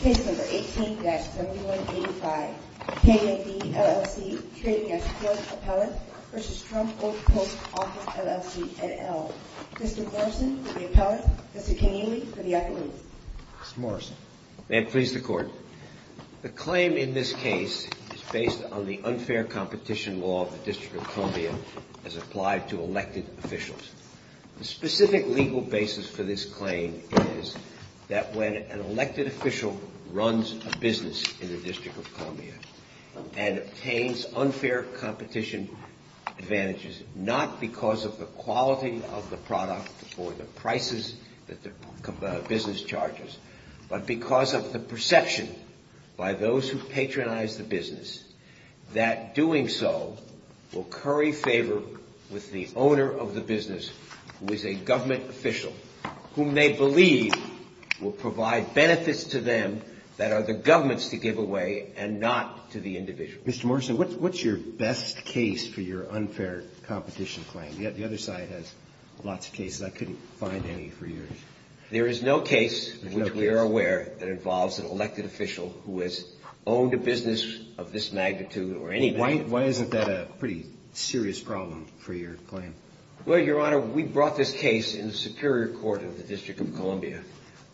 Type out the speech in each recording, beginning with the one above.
Case number 18-7185. K&D LLC trading escort appellant v. Trump Old Post Office LLC, et al. Mr. Morrison for the appellant, Mr. Keneally for the affidavit. Mr. Morrison. May it please the court. The claim in this case is based on the unfair competition law of the District of Columbia as applied to elected officials. The specific legal basis for this claim is that when an elected official runs a business in the District of Columbia and obtains unfair competition advantages, not because of the quality of the product or the prices that the business charges, but because of the perception by those who patronize the business that doing so will curry favor with the owner of the business, who is a government official, whom they believe will provide benefits to them that are the government's to give away and not to the individual. Mr. Morrison, what's your best case for your unfair competition claim? The other side has lots of cases. I couldn't find any for years. There is no case, which we are aware, that involves an elected official who has owned a business of this magnitude or any... Why isn't that a pretty serious problem for your claim? Well, Your Honor, we brought this case in the Superior Court of the District of Columbia,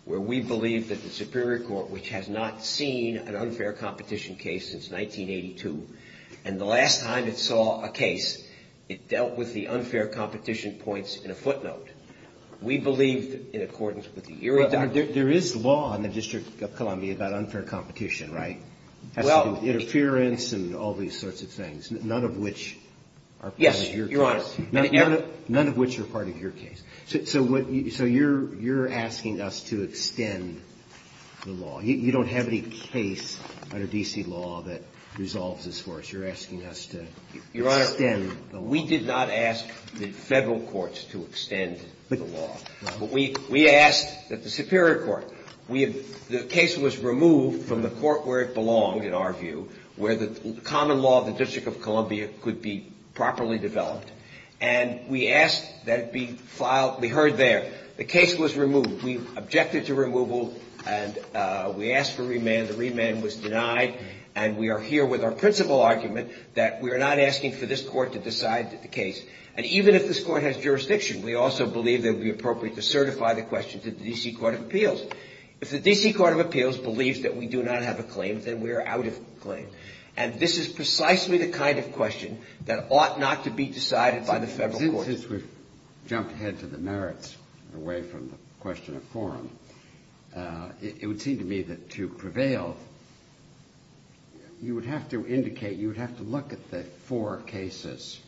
where we believe that the Superior Court, which has not seen an unfair competition case since 1982, and the last time it saw a case, it dealt with the unfair competition points in a footnote. We believe, in accordance with the... There is law in the District of Columbia about unfair competition, right? Well... Interference and all these sorts of things, none of which are part of your case. Yes, Your Honor. None of which are part of your case. So you're asking us to extend the law. You don't have any case under D.C. law that resolves this for us. You're asking us to extend the law. Your Honor, we did not ask the Federal courts to extend the law. We asked that the Superior Court... The case was removed from the court where it belonged, in our view, where the common law of the District of Columbia could be properly developed. And we asked that it be filed... We heard there, the case was removed. We objected to removal and we asked for remand. The remand was denied. And we are here with our principal argument that we are not asking for this court to decide the case. And even if this court has jurisdiction, we also believe that it would be appropriate to certify the question to the D.C. Court of Appeals. If the D.C. Court of Appeals believes that we do not have a claim, then we are out of claim. And this is precisely the kind of question that ought not to be decided by the Federal courts. Since we've jumped ahead to the merits, away from the question of quorum, it would seem to me that to prevail, you would have to indicate... You would have to look at the four cases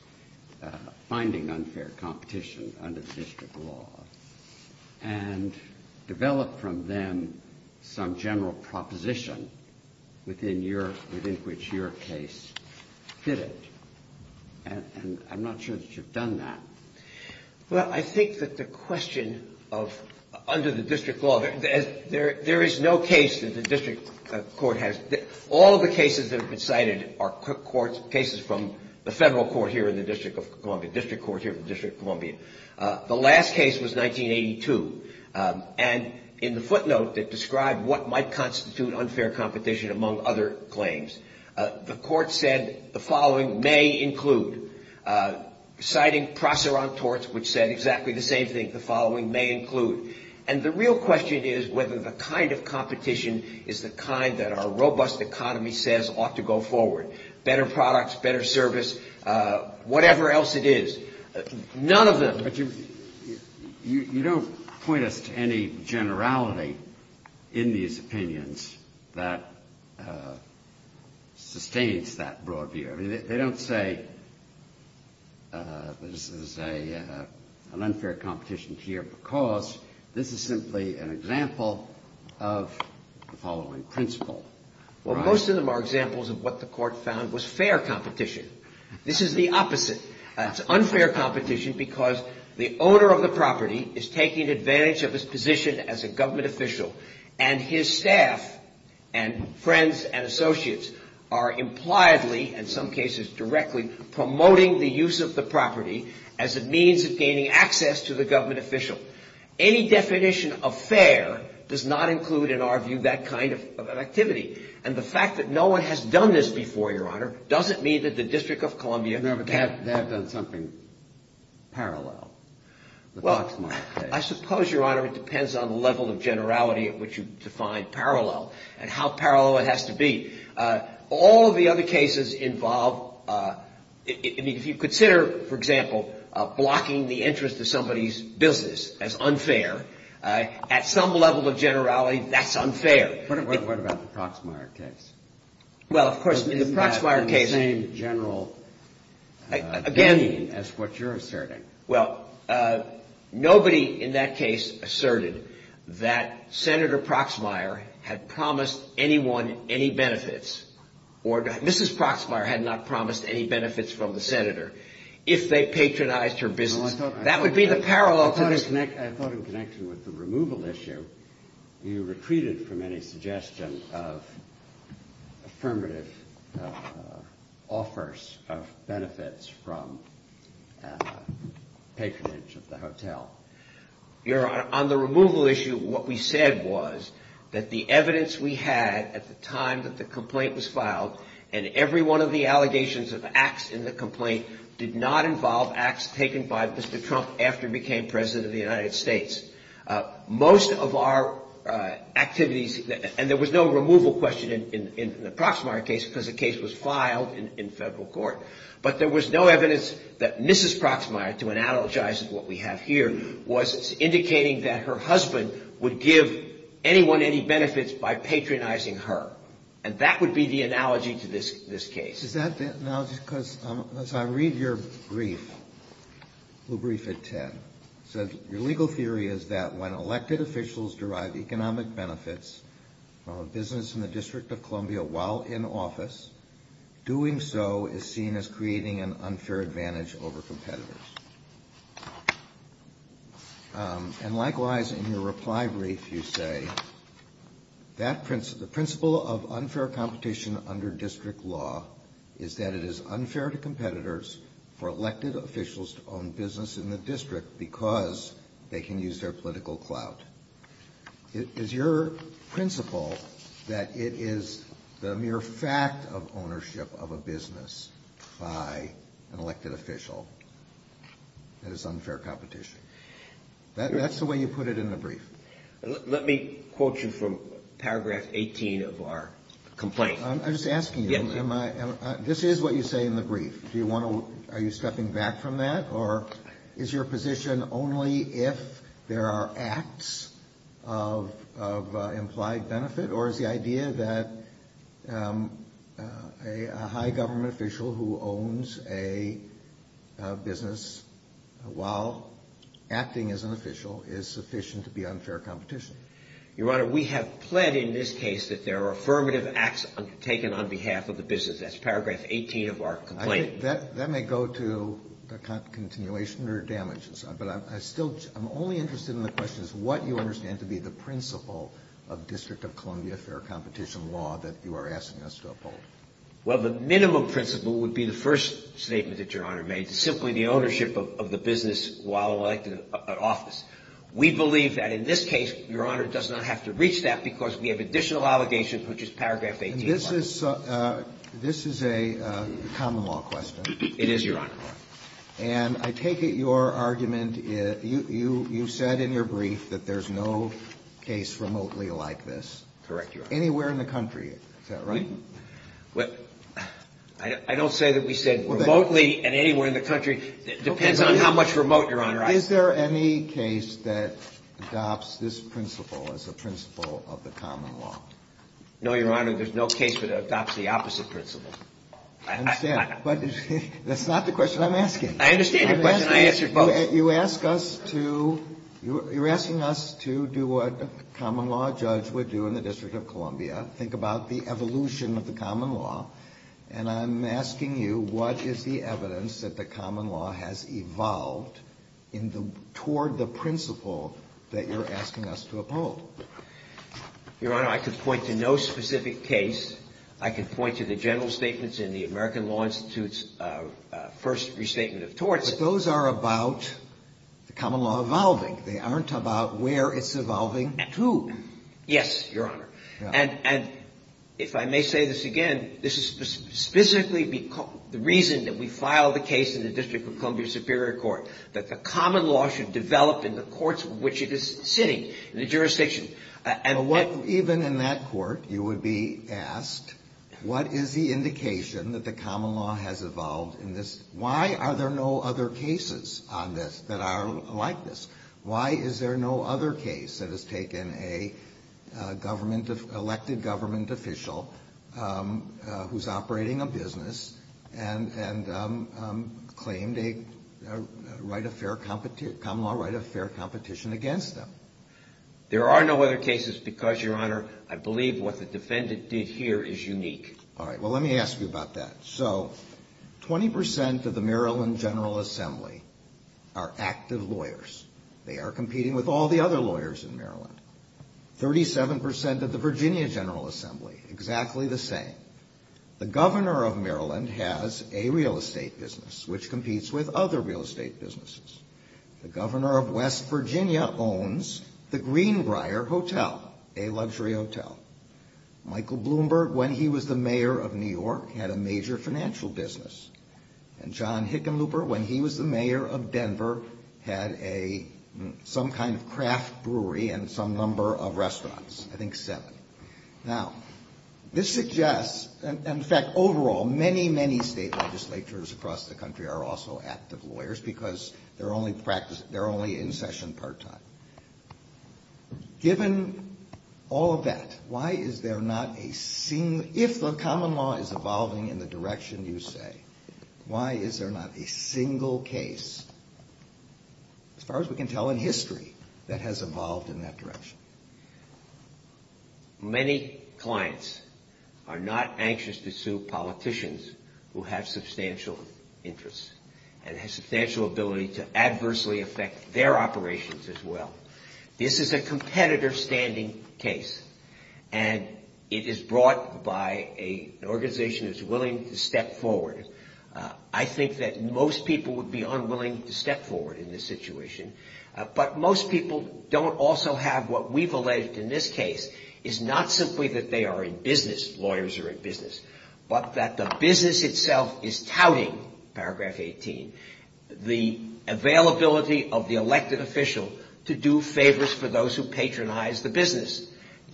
finding unfair competition under the District of law and develop from them some general proposition within which your case fitted. And I'm not sure that you've done that. Well, I think that the question of... Under the District law, there is no case that the District court has... All of the cases that have been cited are cases from the Federal court here in the District of Columbia, District court here in the District of Columbia. The last case was 1982. And in the footnote that described what might constitute unfair competition, among other claims, the court said, the following may include. Citing Proser on torts, which said exactly the same thing, the following may include. And the real question is whether the kind of competition is the kind that our robust economy says ought to go forward. Better products, better service, whatever else it is. None of them. But you don't point us to any generality in these opinions that sustains that broad view. I mean, they don't say this is an unfair competition here because this is simply an example of the following principle. Well, most of them are examples of what the court found was fair competition. This is the opposite. It's unfair competition because the owner of the property is taking advantage of his position as a government official. And his staff and friends and associates are impliedly, in some cases directly, promoting the use of the property as a means of gaining access to the government official. Any definition of fair does not include, in our view, that kind of activity. And the fact that no one has done this before, Your Honor, doesn't mean that the District of Columbia can't. No, but they have done something parallel. Well, I suppose, Your Honor, it depends on the level of generality at which you define parallel and how parallel it has to be. All of the other cases involve, if you consider, for example, blocking the interest of somebody's business as unfair, at some level of generality, that's unfair. What about the Proxmire case? Well, of course, in the Proxmire case... Isn't that the same general opinion as what you're asserting? Well, nobody in that case asserted that Senator Proxmire had promised anyone any benefits. Mrs. Proxmire had not promised any benefits from the senator if they patronized her business. That would be the parallel. I thought in connection with the removal issue, you retreated from any suggestion of affirmative offers of benefits from patronage of the hotel. Your Honor, on the removal issue, what we said was that the evidence we had at the time that the complaint was filed and every one of the allegations of acts in the complaint did not involve acts taken by Mr. Trump after he became President of the United States. Most of our activities, and there was no removal question in the Proxmire case because the case was filed in federal court, but there was no evidence that Mrs. Proxmire, to analogize what we have here, was indicating that her husband would give anyone any benefits by patronizing her. And that would be the analogy to this case. Is that the analogy? Because as I read your brief, the brief that Ted said, your legal theory is that when elected officials derive economic benefits from a business in the District of Columbia while in office, doing so is seen as creating an unfair advantage over competitors. And likewise, in your reply brief, you say, the principle of unfair competition under district law is that it is unfair to competitors for elected officials to own business in the district because they can use their political clout. Is your principle that it is the mere fact of ownership of a business by an elected official? That is unfair competition. That's the way you put it in the brief. Let me quote you from paragraph 18 of our complaint. I'm just asking you, this is what you say in the brief. Are you stepping back from that? Or is your position only if there are acts of implied benefit? Or is the idea that a high government official who owns a business while acting as an official is sufficient to be unfair competition? Your Honor, we have pled in this case that there are affirmative acts undertaken on behalf of the business. That's paragraph 18 of our complaint. That may go to continuation or damages. But I'm only interested in the question is what you understand to be the principle of district of Columbia fair competition law that you are asking us to uphold. Well, the minimum principle would be the first statement that Your Honor made, simply the ownership of the business while elected in office. We believe that in this case, Your Honor, does not have to reach that because we have additional obligations, which is paragraph 18. And this is a common law question. It is, Your Honor. And I take it your argument, you said in your brief that there's no case remotely like this. Correct, Your Honor. Anywhere in the country. Is that right? I don't say that we said remotely and anywhere in the country. It depends on how much remote, Your Honor. Is there any case that adopts this principle as a principle of the common law? No, Your Honor. There's no case that adopts the opposite principle. I understand. But that's not the question I'm asking. I understand your question. I answered both. You're asking us to do what a common law judge would do in the district of Columbia. Think about the evolution of the common law. And I'm asking you what is the evidence that the common law has evolved toward the principle that you're asking us to uphold? Your Honor, I could point to no specific case. I could point to the general statements in the American Law Institute's first restatement of torts. But those are about the common law evolving. They aren't about where it's evolving to. Yes, Your Honor. And if I may say this again, this is specifically the reason that we filed the case in the district of Columbia Superior Court, that the common law should develop in the courts in which it is sitting, in the jurisdiction. Even in that court, you would be asked, what is the indication that the common law has evolved in this? Why are there no other cases on this that are like this? Why is there no other case that has taken an elected government official who's operating a business and claimed a right of fair competition against them? There are no other cases because, Your Honor, I believe what the defendant did here is unique. All right. Well, let me ask you about that. So 20 percent of the Maryland General Assembly are active lawyers. They are competing with all the other lawyers in Maryland. Thirty-seven percent of the Virginia General Assembly, exactly the same. The governor of Maryland has a real estate business, which competes with other real estate businesses. The governor of West Virginia owns the Greenbrier Hotel, a luxury hotel. Michael Bloomberg, when he was the mayor of New York, had a major financial business. And John Hickenlooper, when he was the mayor of Denver, had some kind of craft brewery and some number of restaurants. I think seven. Now, this suggests, in fact, overall, many, many state legislatures across the country are also active lawyers because they're only in session part-time. Given all of that, why is there not a single – if the common law is evolving in the direction you say, why is there not a single case, as far as we can tell in history, that has evolved in that direction? Many clients are not anxious to sue politicians who have substantial interests and have substantial ability to adversely affect their operations as well. This is a competitor-standing case, and it is brought by an organization that's willing to step forward. I think that most people would be unwilling to step forward in this situation, but most people don't also have what we've alleged in this case is not simply that they are in business, lawyers are in business, but that the business itself is touting, paragraph 18, the availability of the elected official to do favors for those who patronize the business.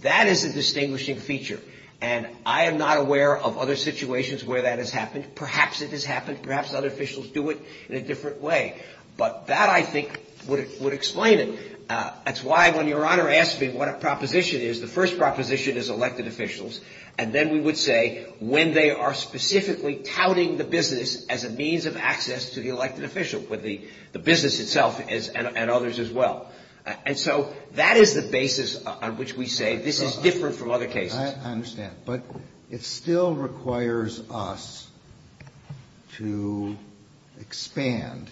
That is a distinguishing feature, and I am not aware of other situations where that has happened. Perhaps it has happened. Perhaps other officials do it in a different way. But that, I think, would explain it. That's why when Your Honor asked me what a proposition is, the first proposition is elected officials, and then we would say when they are specifically touting the business as a means of access to the elected official, with the business itself and others as well. And so that is the basis on which we say this is different from other cases. I understand. But it still requires us to expand,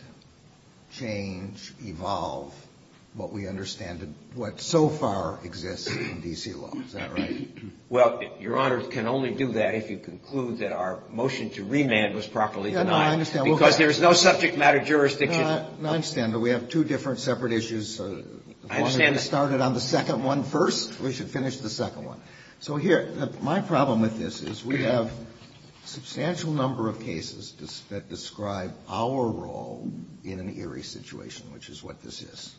change, evolve what we understand, what so far exists in D.C. law. Is that right? Well, Your Honor can only do that if you conclude that our motion to remand was properly denied. No, I understand. Because there is no subject matter jurisdiction. No, I understand. But we have two different separate issues. I understand that. Let's get started on the second one first. We should finish the second one. So here, my problem with this is we have a substantial number of cases that describe our role in an eerie situation, which is what this is.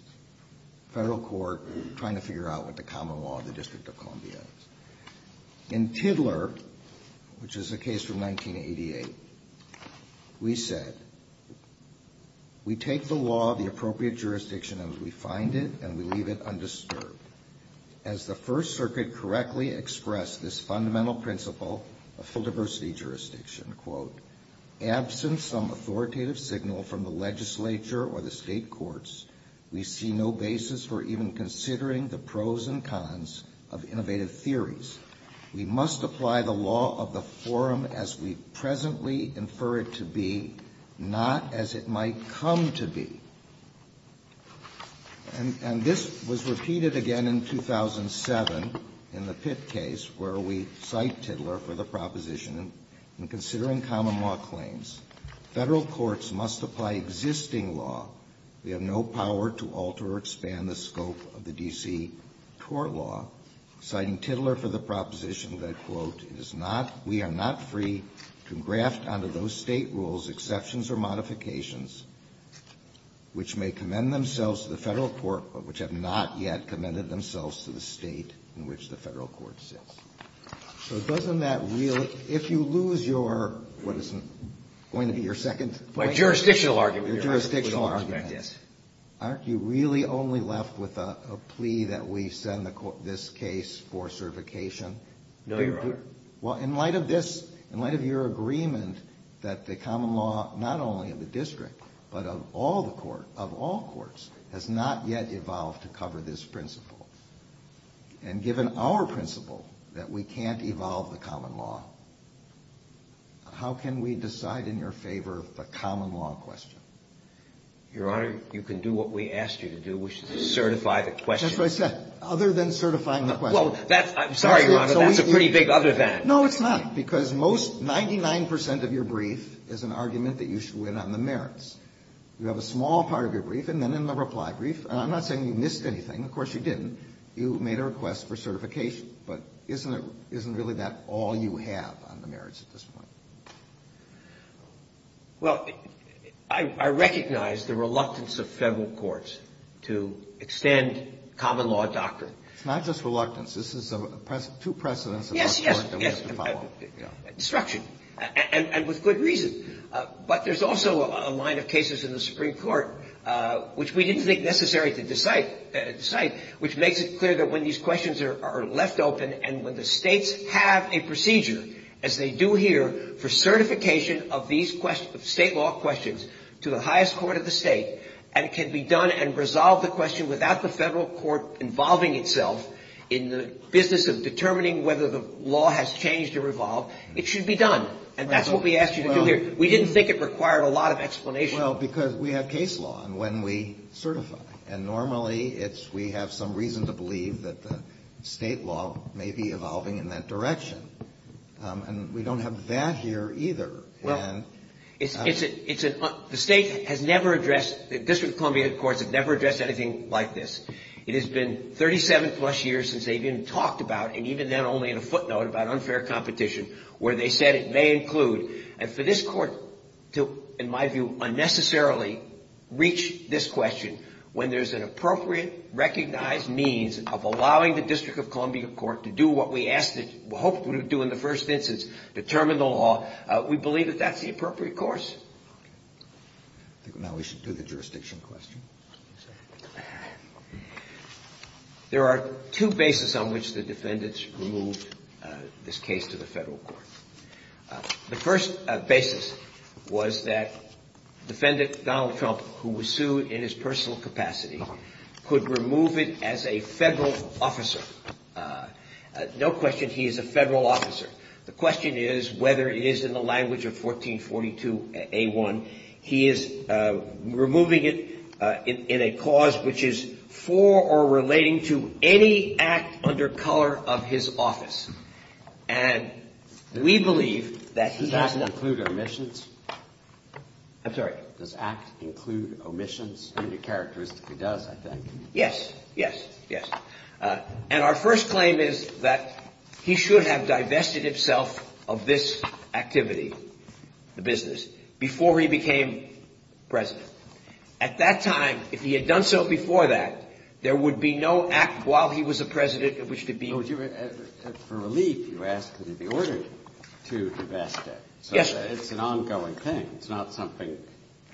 Federal court trying to figure out what the common law of the District of Columbia is. In Tiddler, which is a case from 1988, we said, We take the law of the appropriate jurisdiction as we find it, and we leave it undisturbed. As the First Circuit correctly expressed this fundamental principle of full diversity jurisdiction, absent some authoritative signal from the legislature or the state courts, we see no basis for even considering the pros and cons of innovative theories. We must apply the law of the forum as we presently infer it to be, not as it might come to be. And this was repeated again in 2007 in the Pitt case where we cite Tiddler for the proposition in considering common law claims. Federal courts must apply existing law. We have no power to alter or expand the scope of the D.C. court law. Citing Tiddler for the proposition that, quote, it is not, we are not free to graft onto those state rules exceptions or modifications which may commend themselves to the Federal court, but which have not yet commended themselves to the state in which the Federal court sits. So doesn't that really, if you lose your, what is it, going to be your second point? Verrilli, Your jurisdictional argument. Your jurisdictional argument. Yes. Aren't you really only left with a plea that we send this case for certification? No, Your Honor. Well, in light of this, in light of your agreement that the common law, not only of the district, but of all the courts, of all courts, has not yet evolved to cover this principle. And given our principle that we can't evolve the common law, how can we decide in your favor the common law question? Your Honor, you can do what we asked you to do. We should certify the question. That's what I said. Other than certifying the question. Well, that's, I'm sorry, Your Honor, that's a pretty big other than. No, it's not. Because most, 99 percent of your brief is an argument that you should win on the merits. You have a small part of your brief, and then in the reply brief, and I'm not saying you missed anything. Of course, you didn't. You made a request for certification. But isn't it, isn't really that all you have on the merits at this point? Well, I recognize the reluctance of Federal courts to extend common law doctrine. It's not just reluctance. This is two precedents of our court that we have to follow. Yes, yes. Destruction. And with good reason. But there's also a line of cases in the Supreme Court, which we didn't think necessary to decide, which makes it clear that when these questions are left open and when the States have a procedure, as they do here, for certification of these State law questions to the highest court of the State, and it can be done and resolve the question without the Federal court involving itself in the business of determining whether the law has changed or evolved, it should be done. And that's what we asked you to do here. We didn't think it required a lot of explanation. Well, because we have case law, and when we certify. And normally we have some reason to believe that the State law may be evolving in that direction. And we don't have that here either. Well, the State has never addressed, the District of Columbia courts have never addressed anything like this. It has been 37-plus years since they've even talked about it, and even then only in a footnote about unfair competition, where they said it may include. And for this court to, in my view, unnecessarily reach this question, when there's an appropriate recognized means of allowing the District of Columbia court to do what we asked it, hoped it would do in the first instance, determine the law, we believe that that's the appropriate course. Now we should do the jurisdiction question. There are two bases on which the defendants removed this case to the Federal court. The first basis was that defendant Donald Trump, who was sued in his personal capacity, could remove it as a Federal officer. No question he is a Federal officer. The question is whether it is in the language of 1442A1. He is removing it in a cause which is for or relating to any act under color of his office. And we believe that he has to... Does the act include omissions? I'm sorry? Does the act include omissions? It characteristically does, I think. Yes, yes, yes. And our first claim is that he should have divested himself of this activity, the business, before he became president. At that time, if he had done so before that, there would be no act while he was a president in which to be... For relief, you asked that he be ordered to divest it. Yes. So it's an ongoing thing. It's not something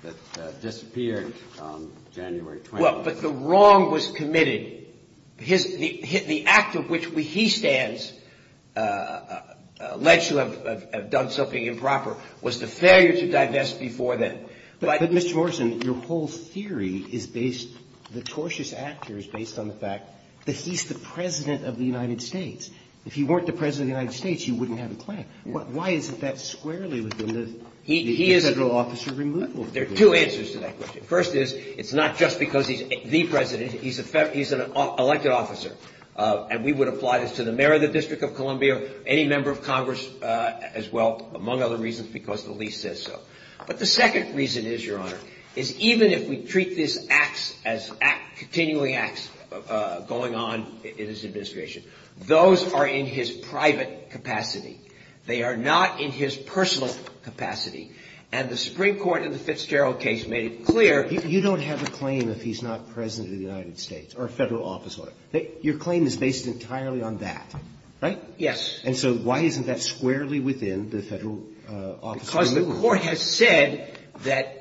that disappeared on January 20th. Well, but the wrong was committed. The act of which he stands, alleged to have done something improper, was the failure to divest before then. But, Mr. Morrison, your whole theory is based... The tortious actor is based on the fact that he's the president of the United States. If he weren't the president of the United States, you wouldn't have a claim. Why isn't that squarely within the... He is... The federal officer removal. There are two answers to that question. First is, it's not just because he's the president. He's an elected officer. And we would apply this to the mayor of the District of Columbia, any member of Congress as well, among other reasons, because the lease says so. But the second reason is, Your Honor, is even if we treat these acts as continuing acts going on in his administration, those are in his private capacity. They are not in his personal capacity. And the Supreme Court in the Fitzgerald case made it clear... You don't have a claim if he's not president of the United States or a federal officer. Your claim is based entirely on that, right? Yes. Because the court has said that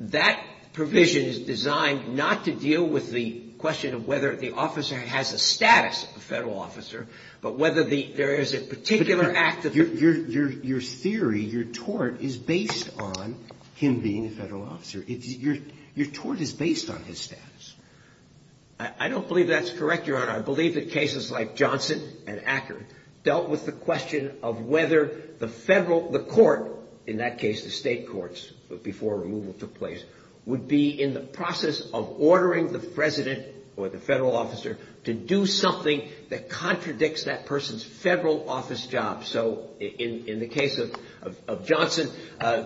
that provision is designed not to deal with the question of whether the officer has a status, a federal officer, but whether there is a particular act... Your theory, your tort, is based on him being a federal officer. Your tort is based on his status. I don't believe that's correct, Your Honor. I believe that cases like Johnson and Acker dealt with the question of whether the federal, the court, in that case the state courts before removal took place, would be in the process of ordering the president or the federal officer to do something that contradicts that person's federal office job. So in the case of Johnson,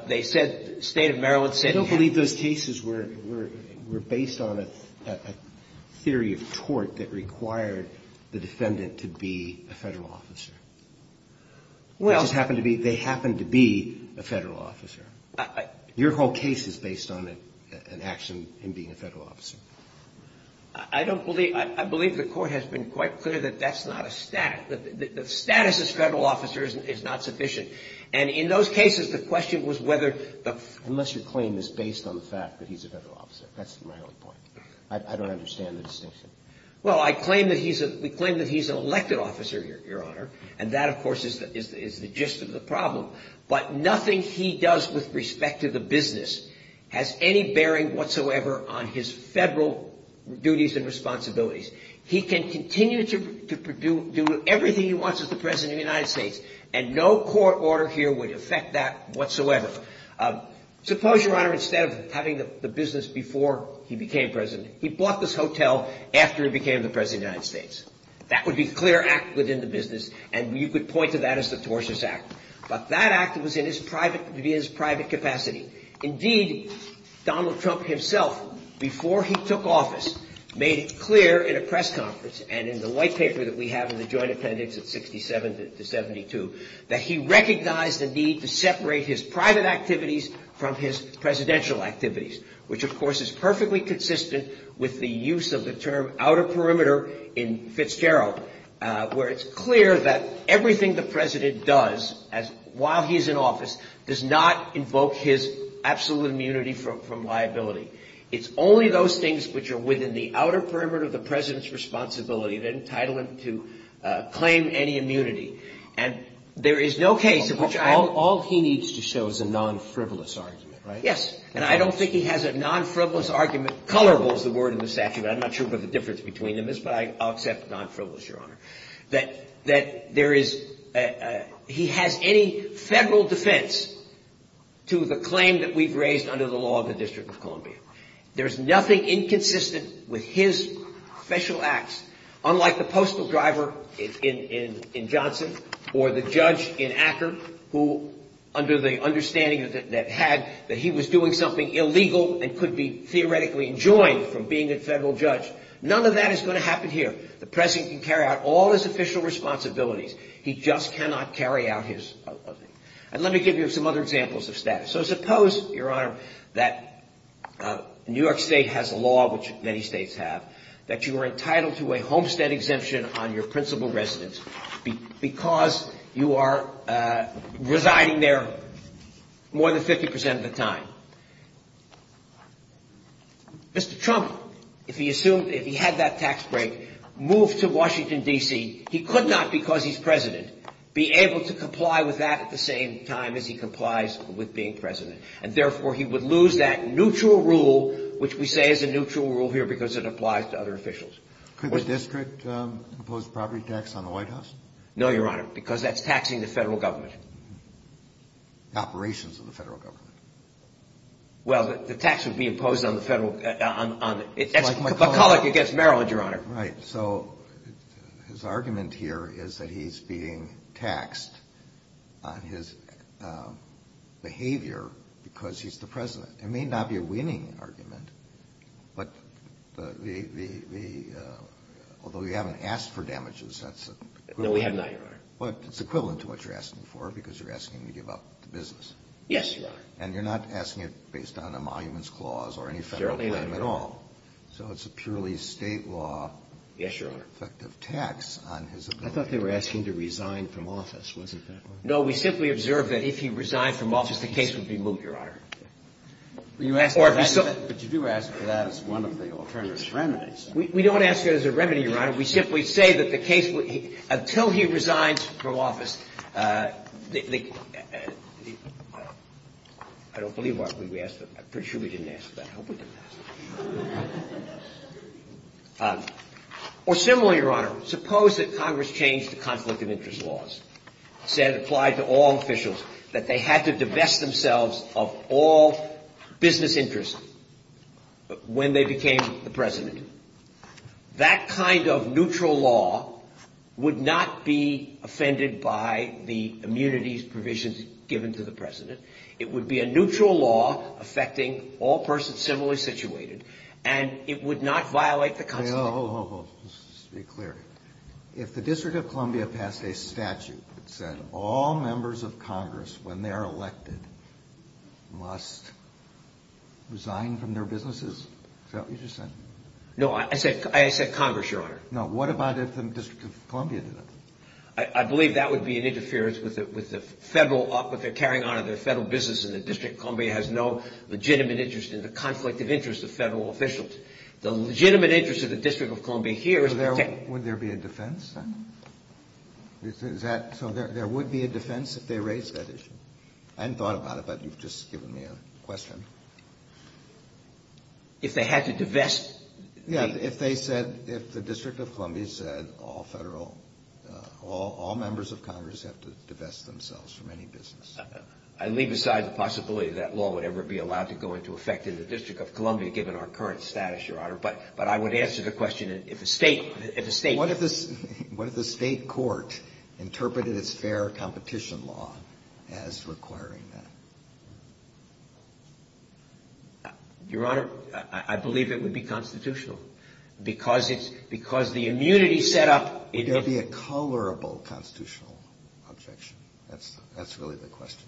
they said, the state of Maryland said... Well... It just happened to be, they happened to be a federal officer. Your whole case is based on an action in being a federal officer. I don't believe, I believe the court has been quite clear that that's not a status. The status as federal officer is not sufficient. And in those cases, the question was whether the... Unless your claim is based on the fact that he's a federal officer. That's my only point. I don't understand the distinction. Well, I claim that he's a... We claim that he's an elected officer, Your Honor. And that, of course, is the gist of the problem. But nothing he does with respect to the business has any bearing whatsoever on his federal duties and responsibilities. He can continue to do everything he wants as the president of the United States. And no court order here would affect that whatsoever. Suppose, Your Honor, instead of having the business before he became president, he bought this hotel after he became the president of the United States. That would be a clear act within the business, and you could point to that as the tortious act. But that act was in his private capacity. Indeed, Donald Trump himself, before he took office, made it clear in a press conference and in the white paper that we have in the joint appendix at 67 to 72, that he recognized the need to separate his private activities from his presidential activities, which, of course, is perfectly consistent with the use of the term outer perimeter in Fitzgerald, where it's clear that everything the president does while he's in office does not invoke his absolute immunity from liability. It's only those things which are within the outer perimeter of the president's responsibility that entitle him to claim any immunity. And there is no case in which all he needs to show is a non-frivolous argument. Yes. And I don't think he has a non-frivolous argument. Colorful is the word in the statute. I'm not sure what the difference between them is. But I accept non-frivolous, Your Honor, that that there is. He has any federal defense to the claim that we've raised under the law of the District of Columbia. There's nothing inconsistent with his special acts, unlike the postal driver in Johnson or the judge in Acker, who under the understanding that had that he was doing something illegal and could be theoretically enjoined from being a federal judge. None of that is going to happen here. The president can carry out all his official responsibilities. He just cannot carry out his. And let me give you some other examples of status. So suppose, Your Honor, that New York State has a law, which many states have, that you are entitled to a homestead exemption on your principal residence because you are residing there more than 50 percent of the time. Mr. Trump, if he assumed if he had that tax break, moved to Washington, D.C., he could not, because he's president, be able to comply with that at the same time as he complies with being president. And therefore, he would lose that neutral rule, which we say is a neutral rule here because it applies to other officials. Could the district impose property tax on the White House? No, Your Honor, because that's taxing the federal government. Operations of the federal government. Well, the tax would be imposed on the federal – that's McCulloch against Maryland, Your Honor. Right. So his argument here is that he's being taxed on his behavior because he's the president. It may not be a winning argument, but the – although we haven't asked for damages, that's – No, we have not, Your Honor. But it's equivalent to what you're asking for because you're asking him to give up the business. Yes, Your Honor. And you're not asking it based on a monuments clause or any federal claim at all. So it's a purely State law. Yes, Your Honor. Effective tax on his ability. I thought they were asking to resign from office. Was it that way? No, we simply observed that if he resigned from office, the case would be moved, Your Honor. But you do ask for that as one of the alternative remedies. We don't ask it as a remedy, Your Honor. We simply say that the case – until he resigns from office, the – I don't believe we asked that. I'm pretty sure we didn't ask that. I hope we didn't ask that. Or similarly, Your Honor, suppose that Congress changed the conflict of interest laws, said it applied to all officials, that they had to divest themselves of all business interests when they became the president. That kind of neutral law would not be offended by the immunities provisions given to the president. It would be a neutral law affecting all persons similarly situated, and it would not violate the Constitution. Hold, hold, hold. Let's be clear. If the District of Columbia passed a statute that said all members of Congress, when they are elected, must resign from their businesses, is that what you just said? No, I said Congress, Your Honor. No, what about if the District of Columbia did it? I believe that would be an interference with the federal – what they're carrying on in their federal business in the District of Columbia has no legitimate interest in the conflict of interest of federal officials. The legitimate interest of the District of Columbia here is to protect – Would there be a defense then? Is that – so there would be a defense if they raised that issue? I hadn't thought about it, but you've just given me a question. If they had to divest the – all members of Congress have to divest themselves from any business. I leave aside the possibility that law would ever be allowed to go into effect in the District of Columbia given our current status, Your Honor, but I would answer the question if a state – What if the state court interpreted its fair competition law as requiring that? Your Honor, I believe it would be constitutional because it's – because the immunity set up – it would be a colorable constitutional objection. That's really the question.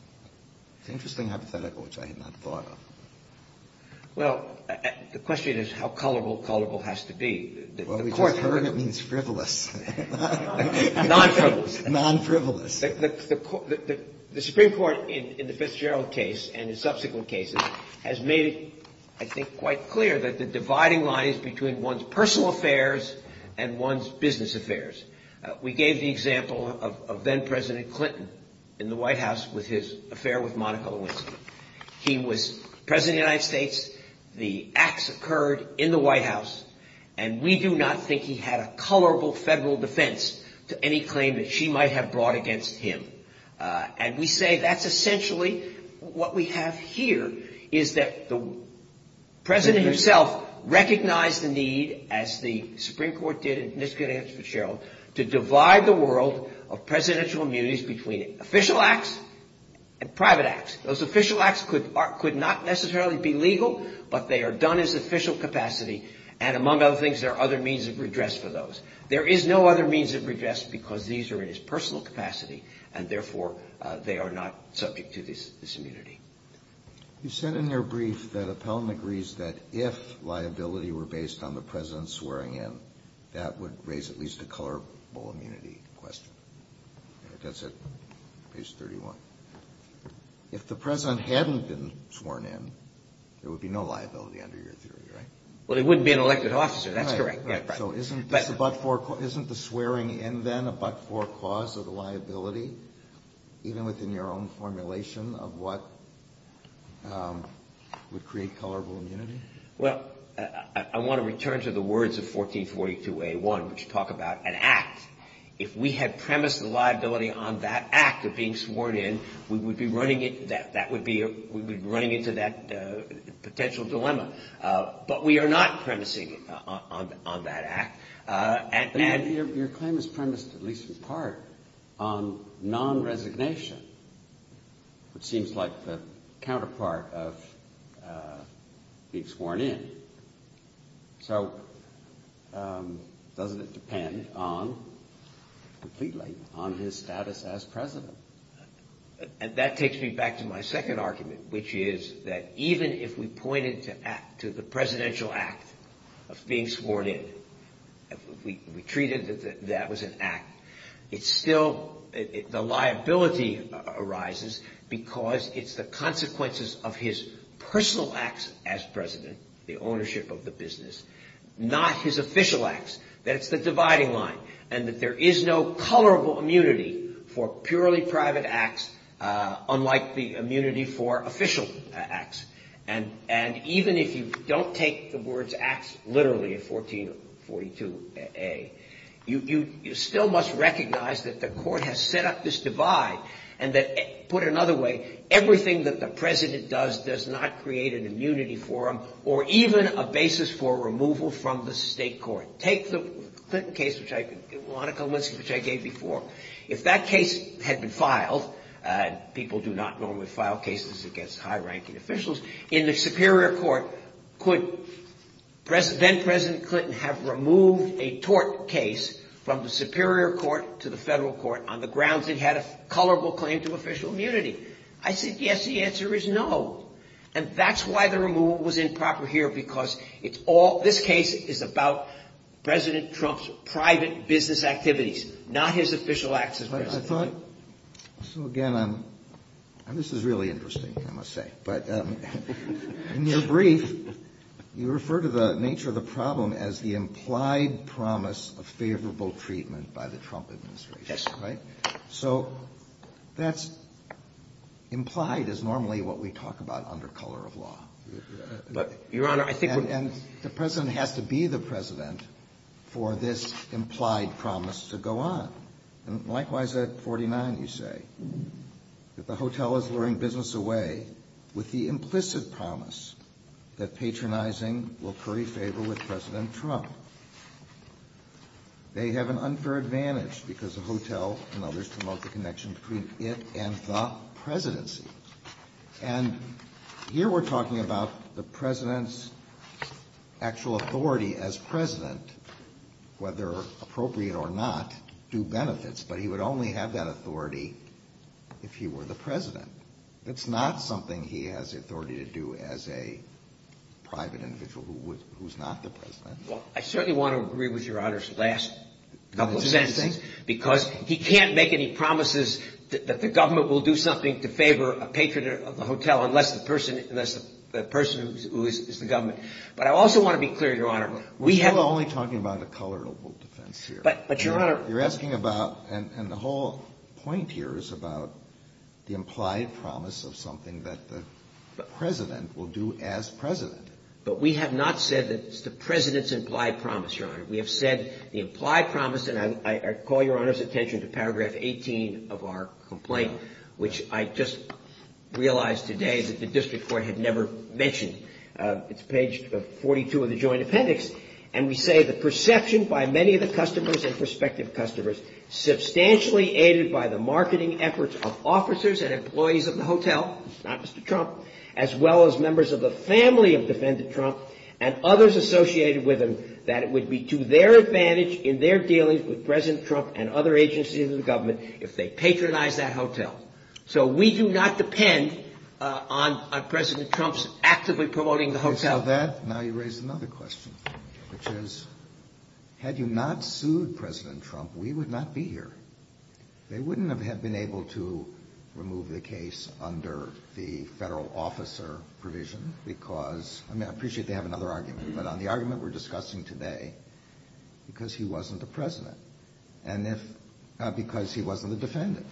It's an interesting hypothetical, which I had not thought of. Well, the question is how colorable colorable has to be. Well, we just heard it means frivolous. Non-frivolous. Non-frivolous. The Supreme Court in the Fitzgerald case and in subsequent cases has made it, I think, quite clear that the dividing line is between one's personal affairs and one's business affairs. We gave the example of then-President Clinton in the White House with his affair with Monica Lewinsky. He was President of the United States. The acts occurred in the White House, and we do not think he had a colorable federal defense to any claim that she might have brought against him. And we say that's essentially what we have here is that the President himself recognized the need, as the Supreme Court did in this case against Fitzgerald, to divide the world of presidential immunities between official acts and private acts. Those official acts could not necessarily be legal, but they are done as official capacity, and among other things, there are other means of redress for those. There is no other means of redress because these are in his personal capacity, and therefore they are not subject to this immunity. You said in your brief that Appell agrees that if liability were based on the President swearing in, that would raise at least a colorable immunity question. That's it, page 31. If the President hadn't been sworn in, there would be no liability under your theory, right? Well, he wouldn't be an elected officer. That's correct. So isn't the swearing in then a but-for cause of the liability, even within your own formulation of what would create colorable immunity? Well, I want to return to the words of 1442A1, which talk about an act. If we had premised the liability on that act of being sworn in, we would be running into that potential dilemma. But we are not premising on that act. Your claim is premised, at least in part, on non-resignation, which seems like the counterpart of being sworn in. So doesn't it depend on, completely, on his status as President? That takes me back to my second argument, which is that even if we pointed to the presidential act of being sworn in, if we treated that that was an act, it's still, the liability arises because it's the consequences of his personal acts as President, the ownership of the business, not his official acts. That's the dividing line. And that there is no colorable immunity for purely private acts, unlike the immunity for official acts. And even if you don't take the words acts literally in 1442A, you still must recognize that the court has set up this divide, and that, put another way, everything that the President does does not create an immunity for him, or even a basis for removal from the state court. Take the Clinton case, which I, Monica Lewinsky, which I gave before. If that case had been filed, and people do not normally file cases against high-ranking officials, in the superior court, could then-President Clinton have removed a tort case from the superior court to the federal court on the grounds it had a colorable claim to official immunity? I said, yes, the answer is no. And that's why the removal was improper here, because this case is about President Trump's private business activities, not his official acts as President. So, again, this is really interesting, I must say. But in your brief, you refer to the nature of the problem as the implied promise of favorable treatment by the Trump administration. So that's implied is normally what we talk about under color of law. But, Your Honor, I think we're- And the President has to be the President for this implied promise to go on. And likewise at 49 you say that the hotel is luring business away with the implicit promise that patronizing will curry favor with President Trump. They have an unfair advantage because the hotel and others promote the connection between it and the presidency. And here we're talking about the President's actual authority as President, whether appropriate or not, do benefits. But he would only have that authority if he were the President. That's not something he has the authority to do as a private individual who's not the President. Well, I certainly want to agree with Your Honor's last couple sentences, because he can't make any promises that the government will do something to favor a patron of the hotel unless the person who is the government. But I also want to be clear, Your Honor, we have- We're still only talking about the color of defense here. But, Your Honor- You're asking about, and the whole point here is about the implied promise of something that the President will do as President. But we have not said that it's the President's implied promise, Your Honor. We have said the implied promise, and I call Your Honor's attention to paragraph 18 of our complaint, which I just realized today that the district court had never mentioned. It's page 42 of the joint appendix. And we say the perception by many of the customers and prospective customers substantially aided by the marketing efforts of officers and employees of the hotel, not Mr. Trump, as well as members of the family of defendant Trump and others associated with him, that it would be to their advantage in their dealings with President Trump and other agencies of the government if they patronized that hotel. So we do not depend on President Trump's actively promoting the hotel. And so that, now you raise another question, which is, had you not sued President Trump, we would not be here. They wouldn't have been able to remove the case under the federal officer provision because, I mean, I appreciate they have another argument, but on the argument we're discussing today, because he wasn't the president, because he wasn't the defendant.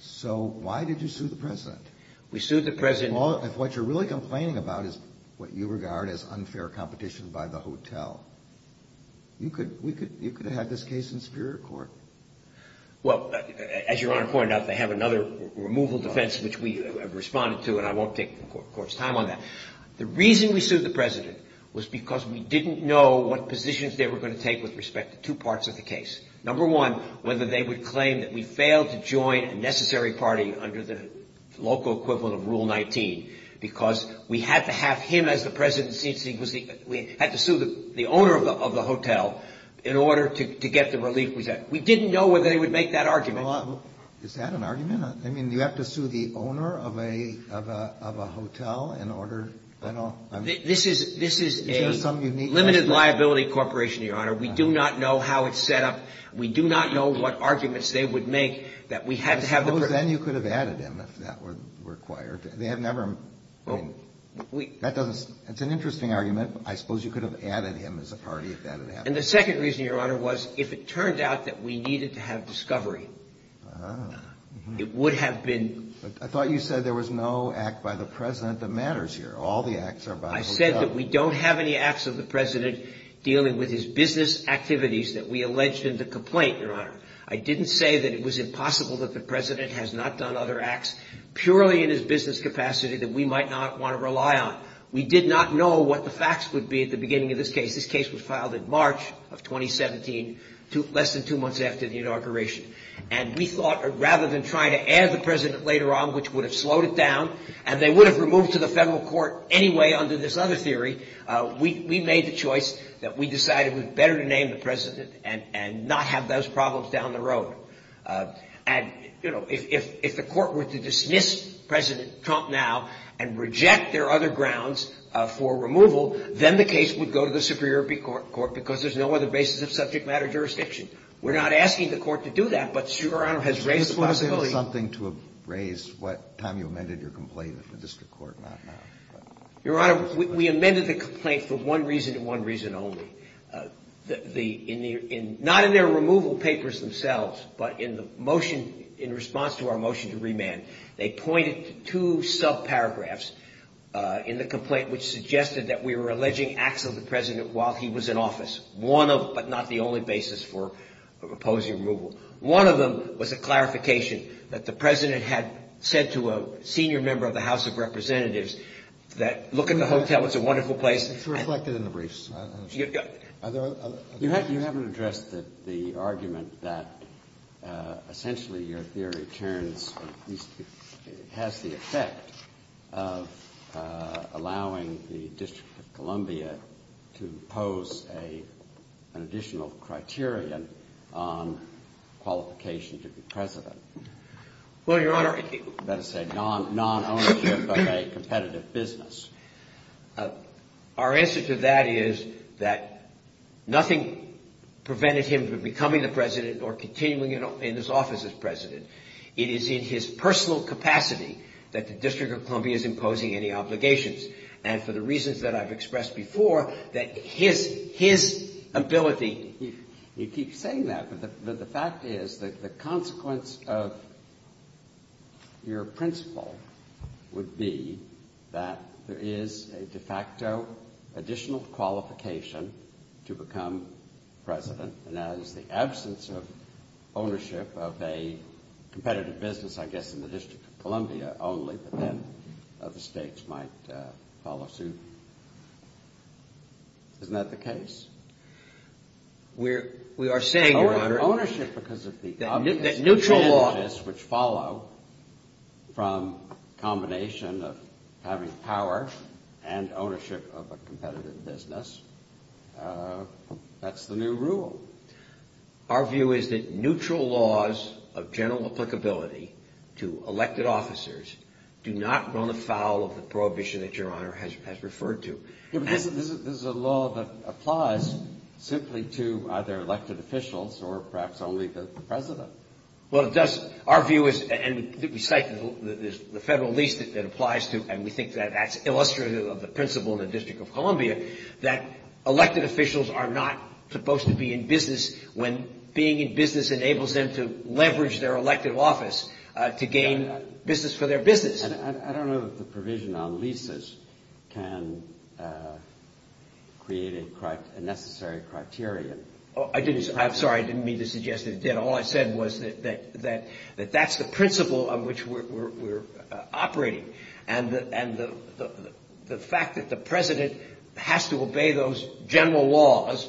So why did you sue the president? We sued the president. If what you're really complaining about is what you regard as unfair competition by the hotel, you could have had this case in superior court. Well, as Your Honor pointed out, they have another removal defense, which we have responded to, and I won't take the court's time on that. The reason we sued the president was because we didn't know what positions they were going to take with respect to two parts of the case. Number one, whether they would claim that we failed to join a necessary party under the local equivalent of Rule 19 because we had to have him as the president. We had to sue the owner of the hotel in order to get the relief we had. We didn't know whether they would make that argument. Is that an argument? I mean, you have to sue the owner of a hotel in order, I don't know. This is a limited liability corporation, Your Honor. We do not know how it's set up. We do not know what arguments they would make that we had to have the president. I suppose then you could have added him if that were required. They have never been. That's an interesting argument. I suppose you could have added him as a party if that had happened. And the second reason, Your Honor, was if it turned out that we needed to have discovery. It would have been. I thought you said there was no act by the president that matters here. All the acts are by the hotel. I said that we don't have any acts of the president dealing with his business activities that we alleged him to complain, Your Honor. I didn't say that it was impossible that the president has not done other acts purely in his business capacity that we might not want to rely on. We did not know what the facts would be at the beginning of this case. This case was filed in March of 2017, less than two months after the inauguration. And we thought rather than try to add the president later on, which would have slowed it down, and they would have removed to the federal court anyway under this other theory, we made the choice that we decided it was better to name the president and not have those problems down the road. And, you know, if the court were to dismiss President Trump now and reject their other grounds for removal, then the case would go to the Superior Court because there's no other basis of subject matter jurisdiction. We're not asking the court to do that, but Your Honor has raised the possibility. This would have been something to have raised what time you amended your complaint if the district court not have. Your Honor, we amended the complaint for one reason and one reason only. Not in their removal papers themselves, but in the motion in response to our motion to remand, they pointed to two subparagraphs in the complaint which suggested that we were alleging acts of the president while he was in office, but not the only basis for opposing removal. One of them was a clarification that the president had said to a senior member of the House of Representatives that look at the hotel, it's a wonderful place. It's reflected in the briefs. You haven't addressed the argument that essentially your theory turns, has the effect of allowing the District of Columbia to pose an additional criterion on qualification to be president. Well, Your Honor. You better say non-ownership of a competitive business. Our answer to that is that nothing prevented him from becoming the president or continuing in this office as president. It is in his personal capacity that the District of Columbia is imposing any obligations and for the reasons that I've expressed before, that his ability. You keep saying that, but the fact is that the consequence of your principle would be that there is a de facto additional qualification to become president and that is the absence of ownership of a competitive business, I guess, in the District of Columbia only, but then other states might follow suit. Isn't that the case? We are saying, Your Honor. Neutral laws which follow from combination of having power and ownership of a competitive business, that's the new rule. Our view is that neutral laws of general applicability to elected officers do not run afoul of the prohibition that Your Honor has referred to. This is a law that applies simply to either elected officials or perhaps only the president. Well, it does. Our view is, and we cite the federal lease that applies to, and we think that that's illustrative of the principle in the District of Columbia, that elected officials are not supposed to be in business when being in business enables them to leverage their elected office to gain business for their business. I don't know that the provision on leases can create a necessary criterion. I'm sorry, I didn't mean to suggest it did. All I said was that that's the principle on which we're operating and the fact that the president has to obey those general laws,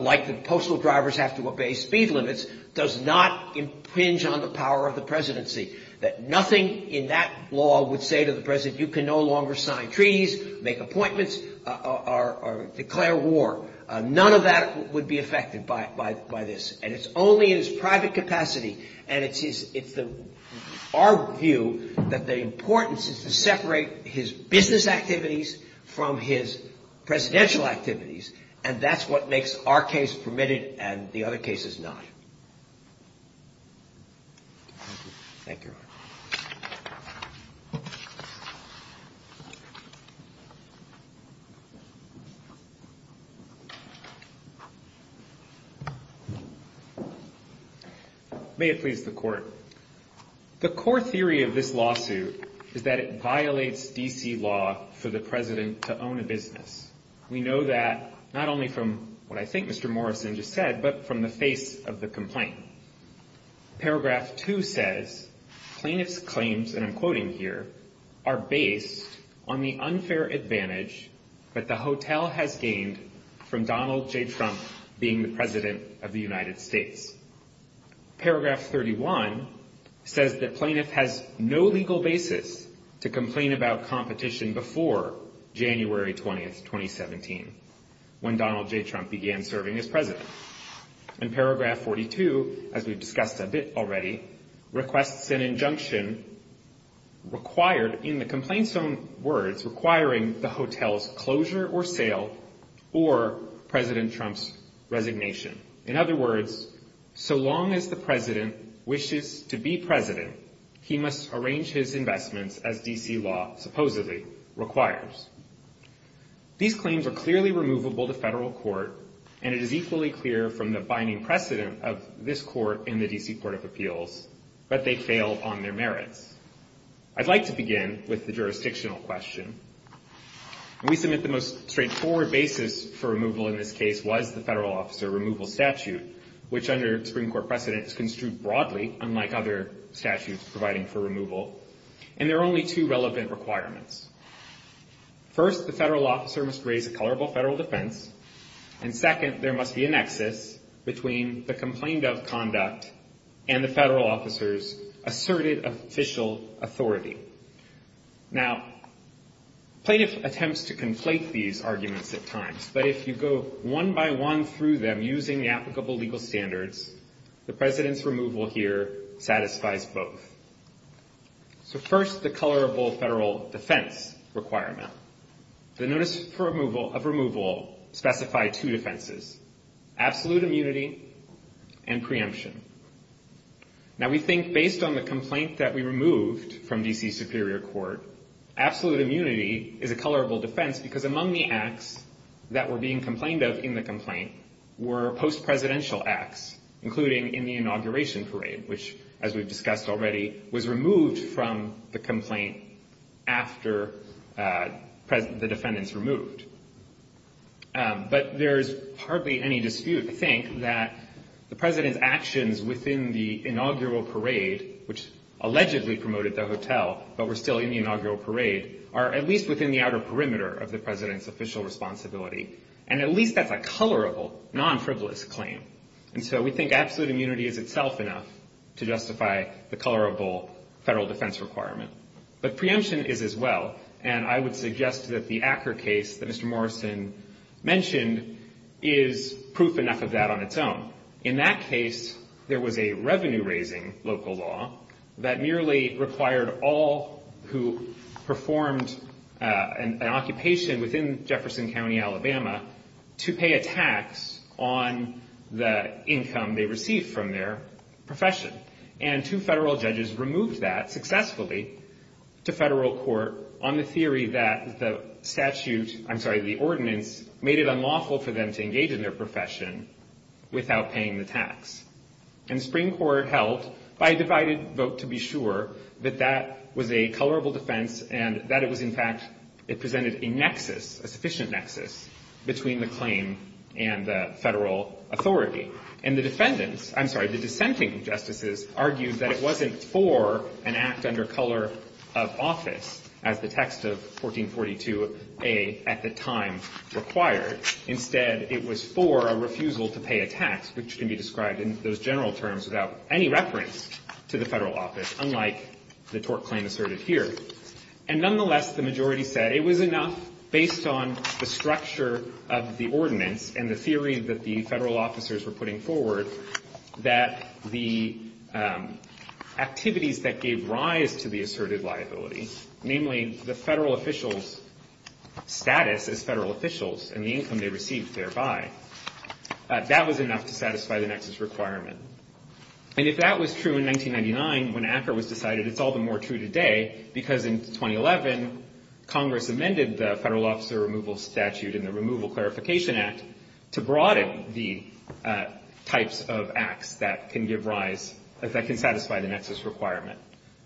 like the postal drivers have to obey speed limits, does not impinge on the power of the presidency, that nothing in that law would say to the president you can no longer sign treaties, make appointments, or declare war. None of that would be affected by this, and it's only in his private capacity. And it's our view that the importance is to separate his business activities from his presidential activities, and that's what makes our case permitted and the other cases not. Thank you. Thank you. May it please the Court. The core theory of this lawsuit is that it violates D.C. law for the president to own a business. We know that not only from what I think Mr. Morrison just said, but from the face of the complaint. Paragraph 2 says plaintiff's claims, and I'm quoting here, are based on the unfair advantage that the hotel has gained from Donald J. Trump being the president of the United States. Paragraph 31 says that plaintiff has no legal basis to complain about competition before January 20, 2017, when Donald J. Trump began serving as president. And paragraph 42, as we've discussed a bit already, requests an injunction required, in the complaint's own words, requiring the hotel's closure or sale or President Trump's resignation. In other words, so long as the president wishes to be president, he must arrange his investments as D.C. law supposedly requires. These claims are clearly removable to federal court, and it is equally clear from the binding precedent of this court in the D.C. Court of Appeals that they fail on their merits. I'd like to begin with the jurisdictional question. We submit the most straightforward basis for removal in this case was the federal officer removal statute, which under Supreme Court precedent is construed broadly, unlike other statutes providing for removal, and there are only two relevant requirements. First, the federal officer must raise a colorable federal defense, and second, there must be a nexus between the complaint of conduct and the federal officer's asserted official authority. Now, plaintiff attempts to conflate these arguments at times, but if you go one by one through them using the applicable legal standards, the president's removal here satisfies both. So first, the colorable federal defense requirement. The notice of removal specified two defenses, absolute immunity and preemption. Now, we think based on the complaint that we removed from D.C. Superior Court, absolute immunity is a colorable defense because among the acts that were being complained of in the complaint were post-presidential acts, including in the inauguration parade, which, as we've discussed already, was removed from the complaint after the defendant's removed. But there is hardly any dispute, I think, that the president's actions within the inaugural parade, which allegedly promoted the hotel but were still in the inaugural parade, are at least within the outer perimeter of the president's official responsibility, and at least that's a colorable, non-frivolous claim. And so we think absolute immunity is itself enough to justify the colorable federal defense requirement. But preemption is as well, and I would suggest that the Acker case that Mr. Morrison mentioned is proof enough of that on its own. In that case, there was a revenue-raising local law that merely required all who performed an occupation within Jefferson County, Alabama, to pay a tax on the income they received from their profession. And two federal judges removed that successfully to federal court on the theory that the statute, I'm sorry, the ordinance, made it unlawful for them to engage in their profession without paying the tax. And the Supreme Court held, by a divided vote to be sure, that that was a colorable defense and that it was, in fact, it presented a nexus, a sufficient nexus, between the claim and the federal authority. And the defendants, I'm sorry, the dissenting justices, argued that it wasn't for an act under color of office, as the text of 1442A at the time required. Instead, it was for a refusal to pay a tax, which can be described in those general terms without any reference to the federal office, unlike the tort claim asserted here. And nonetheless, the majority said it was enough based on the structure of the ordinance and the theory that the federal officers were putting forward that the activities that gave rise to the asserted liability, namely the federal officials' status as federal officials and the income they received thereby, that was enough to satisfy the nexus requirement. And if that was true in 1999, when ACCR was decided, it's all the more true today, because in 2011, Congress amended the federal officer removal statute and the Removal Clarification Act to broaden the types of acts that can give rise, that can satisfy the nexus requirement.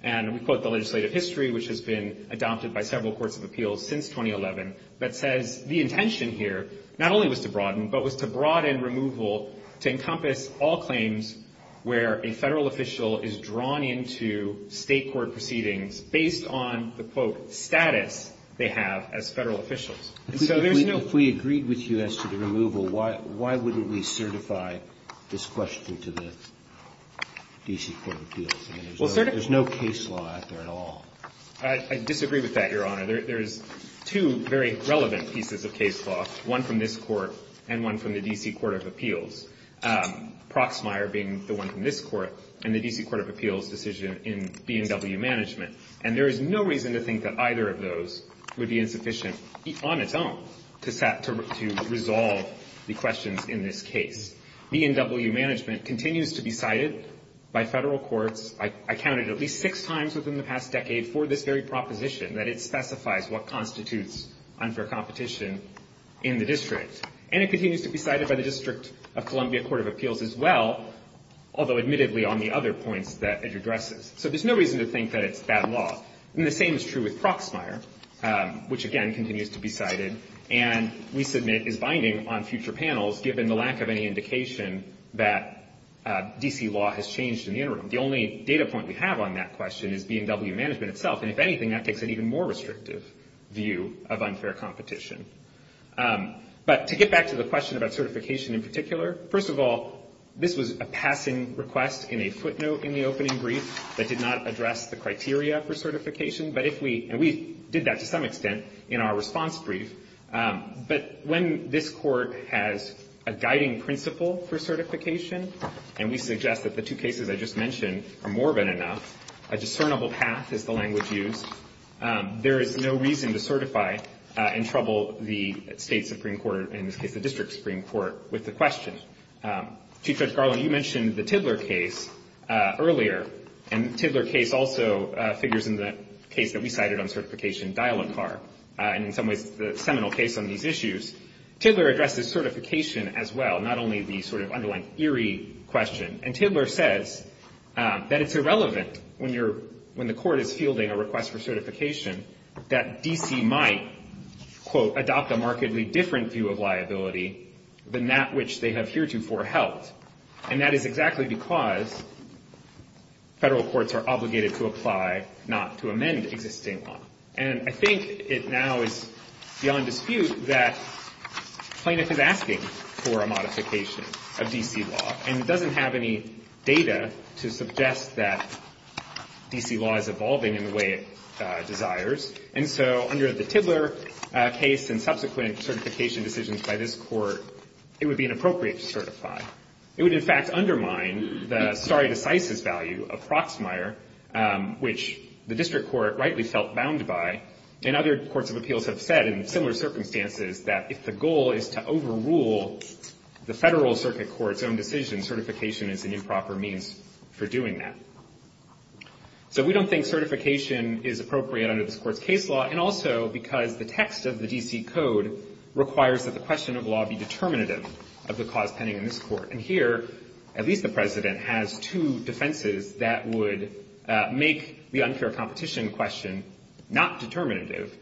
And we quote the legislative history, which has been adopted by several courts of appeals since 2011, that says the intention here not only was to broaden, but was to broaden removal to encompass all claims where a federal official is drawn into state court proceedings based on the, quote, status they have as federal officials. If we agreed with you as to the removal, why wouldn't we certify this question to the D.C. Court of Appeals? I mean, there's no case law out there at all. I disagree with that, Your Honor. There's two very relevant pieces of case law, one from this Court and one from the D.C. Court of Appeals, Proxmire being the one from this Court and the D.C. Court of Appeals decision in B&W management. And there is no reason to think that either of those would be insufficient on its own to resolve the questions in this case. B&W management continues to be cited by federal courts. I counted at least six times within the past decade for this very proposition, that it specifies what constitutes unfair competition in the district. And it continues to be cited by the District of Columbia Court of Appeals as well, although admittedly on the other points that it addresses. So there's no reason to think that it's bad law. And the same is true with Proxmire, which again continues to be cited, and we submit is binding on future panels given the lack of any indication that D.C. law has changed in the interim. The only data point we have on that question is B&W management itself, and if anything that takes an even more restrictive view of unfair competition. But to get back to the question about certification in particular, first of all, this was a passing request in a footnote in the opening brief that did not address the criteria for certification. And we did that to some extent in our response brief. But when this Court has a guiding principle for certification, and we suggest that the two cases I just mentioned are morbid enough, a discernible path is the language used, there is no reason to certify and trouble the State Supreme Court, in this case the District Supreme Court, with the question. Chief Judge Garland, you mentioned the Tiddler case earlier, and the Tiddler case also figures in the case that we cited on certification, Dial-A-Car, and in some ways the seminal case on these issues. Tiddler addresses certification as well, not only the sort of underlying eerie question. And Tiddler says that it's irrelevant, when the Court is fielding a request for certification, that D.C. might, quote, adopt a markedly different view of liability than that which they have heretofore held. And that is exactly because federal courts are obligated to apply not to amend existing law. And I think it now is beyond dispute that plaintiff is asking for a modification of D.C. law, and doesn't have any data to suggest that D.C. law is evolving in the way it desires. And so under the Tiddler case and subsequent certification decisions by this Court, it would be inappropriate to certify. It would, in fact, undermine the stare decisis value of Proxmire, which the District Court rightly felt bound by. And other courts of appeals have said, in similar circumstances, that if the goal is to overrule the federal circuit court's own decision, certification is an improper means for doing that. So we don't think certification is appropriate under this Court's case law, and also because the text of the D.C. Code requires that the question of law be determinative of the cause pending in this Court. And here, at least the President has two defenses that would make the unfair competition question not determinative,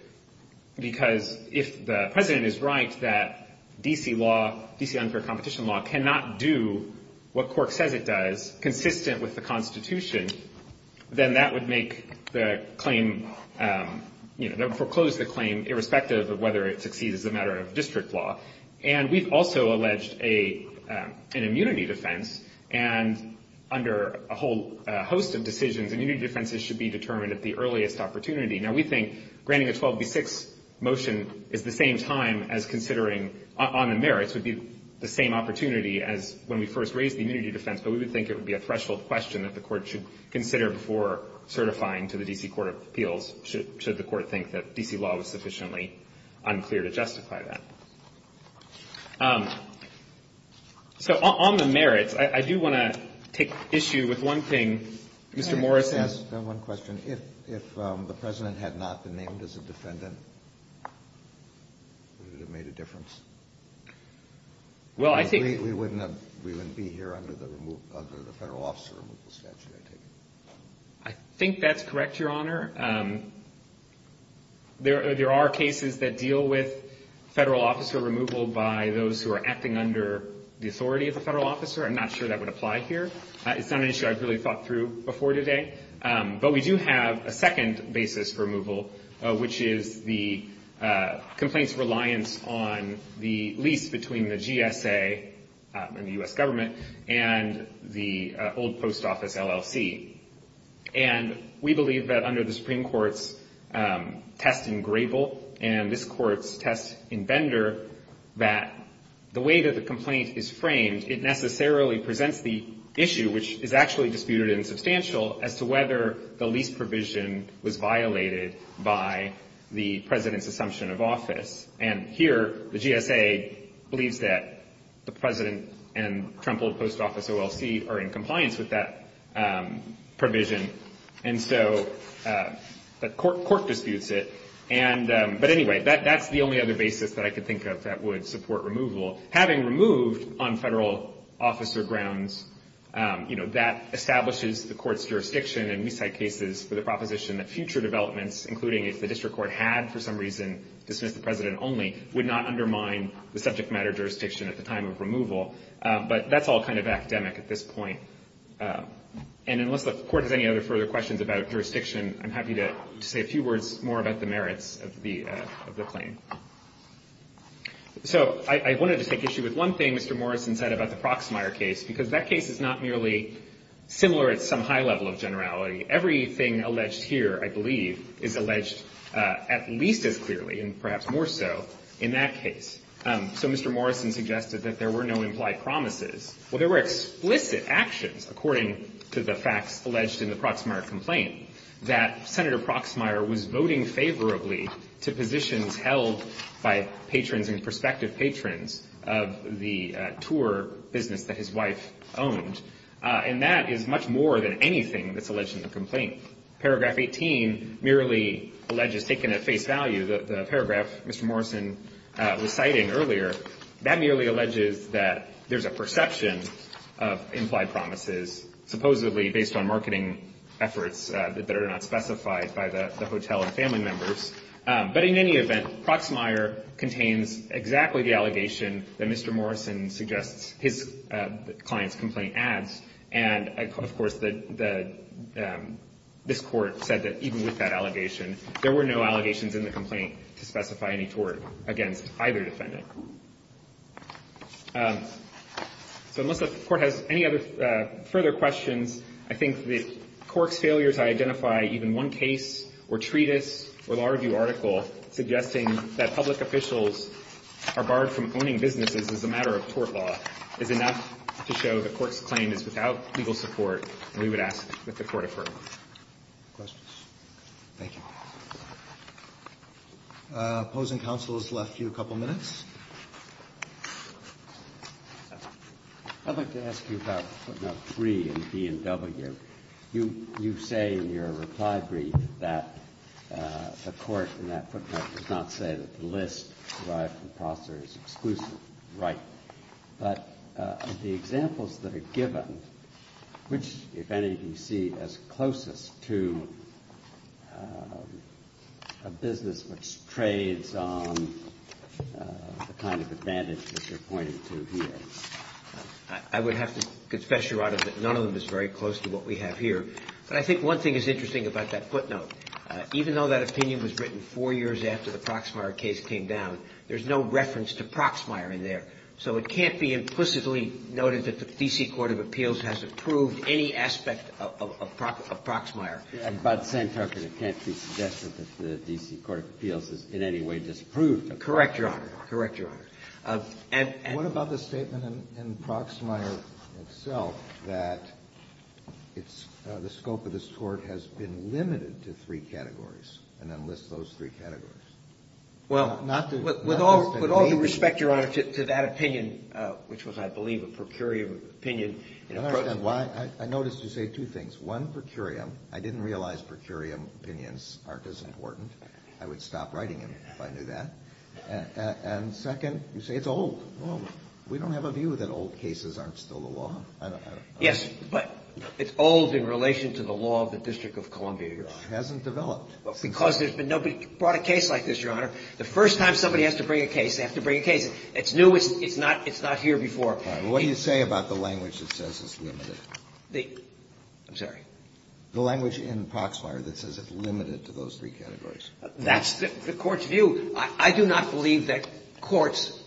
because if the President is right that D.C. law, D.C. unfair competition law, cannot do what Cork says it does, consistent with the Constitution, then that would make the claim, you know, foreclose the claim irrespective of whether it succeeds as a matter of district law. And we've also alleged an immunity defense, and under a whole host of decisions, immunity defenses should be determined at the earliest opportunity. Now, we think granting a 12B6 motion is the same time as considering on the merits, would be the same opportunity as when we first raised the immunity defense, but we would think it would be a threshold question that the Court should consider before certifying to the D.C. Court of Appeals, should the Court think that D.C. law was sufficiently unclear to justify that. So on the merits, I do want to take issue with one thing. Mr. Morrison. Can I just ask one question? If the President had not been named as a defendant, would it have made a difference? Well, I think we wouldn't be here under the Federal officer removal statute, I take it. I think that's correct, Your Honor. There are cases that deal with Federal officer removal by those who are acting under the authority of the Federal officer. I'm not sure that would apply here. It's not an issue I've really thought through before today. But we do have a second basis for removal, which is the complaint's reliance on the lease between the GSA and the U.S. government and the old post office, LLC. And we believe that under the Supreme Court's test in Grable and this Court's test in Bender, that the way that the complaint is framed, it necessarily presents the issue, which is actually disputed and substantial, as to whether the lease provision was violated by the President's assumption of office. And here, the GSA believes that the President and Trump old post office, LLC, are in compliance with that provision. And so the Court disputes it. But anyway, that's the only other basis that I could think of that would support removal. Having removed on Federal officer grounds, you know, that establishes the Court's jurisdiction and we cite cases for the proposition that future developments, including if the District Court had for some reason dismissed the President only, would not undermine the subject matter jurisdiction at the time of removal. But that's all kind of academic at this point. And unless the Court has any other further questions about jurisdiction, I'm happy to say a few words more about the merits of the claim. So I wanted to take issue with one thing Mr. Morrison said about the Proxmire case, because that case is not merely similar at some high level of generality. Everything alleged here, I believe, is alleged at least as clearly and perhaps more so in that case. So Mr. Morrison suggested that there were no implied promises. Well, there were explicit actions, according to the facts alleged in the Proxmire complaint, that Senator Proxmire was voting favorably to positions held by patrons and prospective patrons of the tour business that his wife owned. And that is much more than anything that's alleged in the complaint. Paragraph 18 merely alleges, taken at face value, the paragraph Mr. Morrison was citing earlier, that merely alleges that there's a perception of implied promises, supposedly based on marketing efforts that are not specified by the hotel and family members. But in any event, Proxmire contains exactly the allegation that Mr. Morrison suggests his client's complaint adds. And, of course, this Court said that even with that allegation, there were no allegations in the complaint to specify any tort against either defendant. So unless the Court has any other further questions, I think that Cork's failure to identify even one case or treatise or law review article suggesting that public officials are barred from owning businesses as a matter of tort law is enough to show that Cork's claim is without legal support, and we would ask that the Court affirm. Questions? Thank you. Opposing counsel is left to a couple minutes. I'd like to ask you about footnote 3 in B&W. You say in your reply brief that the Court in that footnote does not say that the list derived from Proxmire is exclusive. Right. But the examples that are given, which, if any, you see as closest to a business which trades on the kind of advantage that you're pointing to here? I would have to confess, Your Honor, that none of them is very close to what we have here. But I think one thing is interesting about that footnote. Even though that opinion was written four years after the Proxmire case came down, there's no reference to Proxmire in there. So it can't be implicitly noted that the D.C. Court of Appeals has approved any aspect of Proxmire. And by the same token, it can't be suggested that the D.C. Court of Appeals has in any way disapproved of Proxmire. Correct, Your Honor. Correct, Your Honor. And what about the statement in Proxmire itself that it's the scope of this Court has been limited to three categories and then lists those three categories? Well, with all due respect, Your Honor, to that opinion, which was, I believe, a per curiam opinion. I noticed you say two things. One, per curiam. I didn't realize per curiam opinions aren't as important. I would stop writing them if I knew that. And second, you say it's old. Well, we don't have a view that old cases aren't still the law. Yes, but it's old in relation to the law of the District of Columbia, Your Honor. It hasn't developed. Because nobody brought a case like this, Your Honor. The first time somebody has to bring a case, they have to bring a case. It's new. It's not here before. All right. Well, what do you say about the language that says it's limited? I'm sorry? The language in Proxmire that says it's limited to those three categories. That's the Court's view. I do not believe that courts,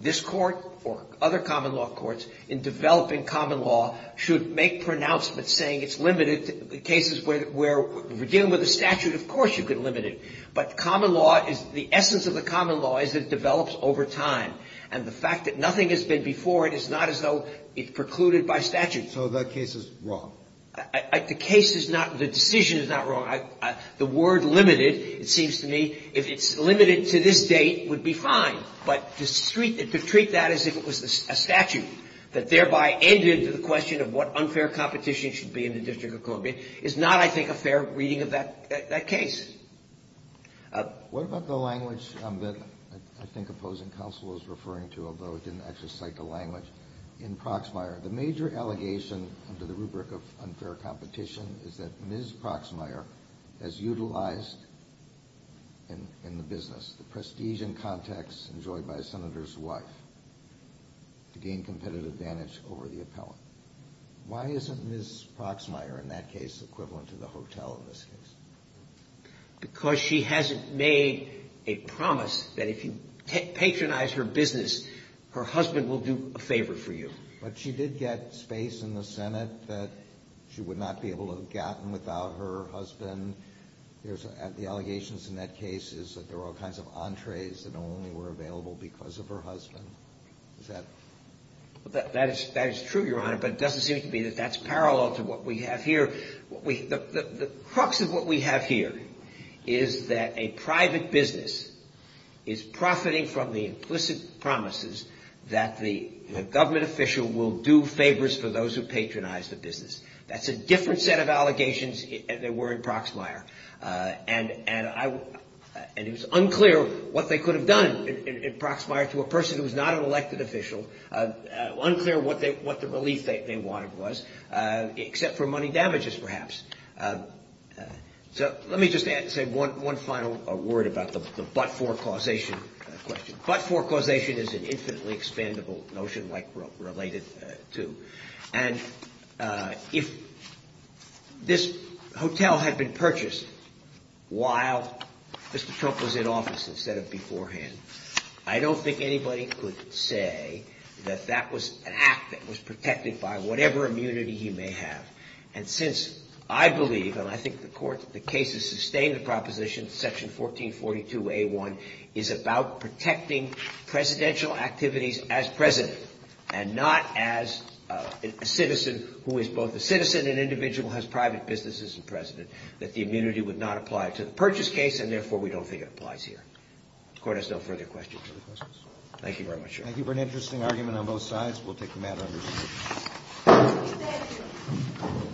this Court or other common law courts, in developing common law, should make pronouncements saying it's limited to cases where we're dealing with a statute. Of course you could limit it. But common law is the essence of the common law is it develops over time. And the fact that nothing has been before it is not as though it's precluded by statute. So that case is wrong. The case is not the decision is not wrong. The word limited, it seems to me, if it's limited to this date, would be fine. But to treat that as if it was a statute that thereby ended to the question of what unfair competition should be in the District of Columbia is not, I think, a fair reading of that case. What about the language that I think opposing counsel is referring to, although it didn't actually cite the language, in Proxmire? The major allegation under the rubric of unfair competition is that Ms. Proxmire has utilized in the business the prestige and context enjoyed by a senator's wife to gain competitive advantage over the appellant. Why isn't Ms. Proxmire in that case equivalent to the hotel in this case? Because she hasn't made a promise that if you patronize her business, her husband will do a favor for you. But she did get space in the Senate that she would not be able to have gotten without her husband. The allegations in that case is that there are all kinds of entrees that only were available because of her husband. Is that? That is true, Your Honor, but it doesn't seem to me that that's parallel to what we have here. The crux of what we have here is that a private business is profiting from the implicit promises that the government official will do favors for those who patronize the business. That's a different set of allegations than there were in Proxmire. And it was unclear what they could have done in Proxmire to a person who was not an elected official, unclear what the relief they wanted was, except for money damages, perhaps. So let me just say one final word about the but-for causation question. But-for causation is an infinitely expandable notion like related to. And if this hotel had been purchased while Mr. Trump was in office instead of beforehand, I don't think anybody could say that that was an act that was protected by whatever immunity he may have. And since I believe, and I think the court, the case has sustained the proposition, section 1442A1, is about protecting presidential activities as president and not as a citizen who is both a citizen and individual has private businesses as president, that the immunity would not apply to the purchase case and therefore we don't think it applies here. The court has no further questions. Thank you very much, Your Honor. Thank you for an interesting argument on both sides. We'll take the matter under scrutiny.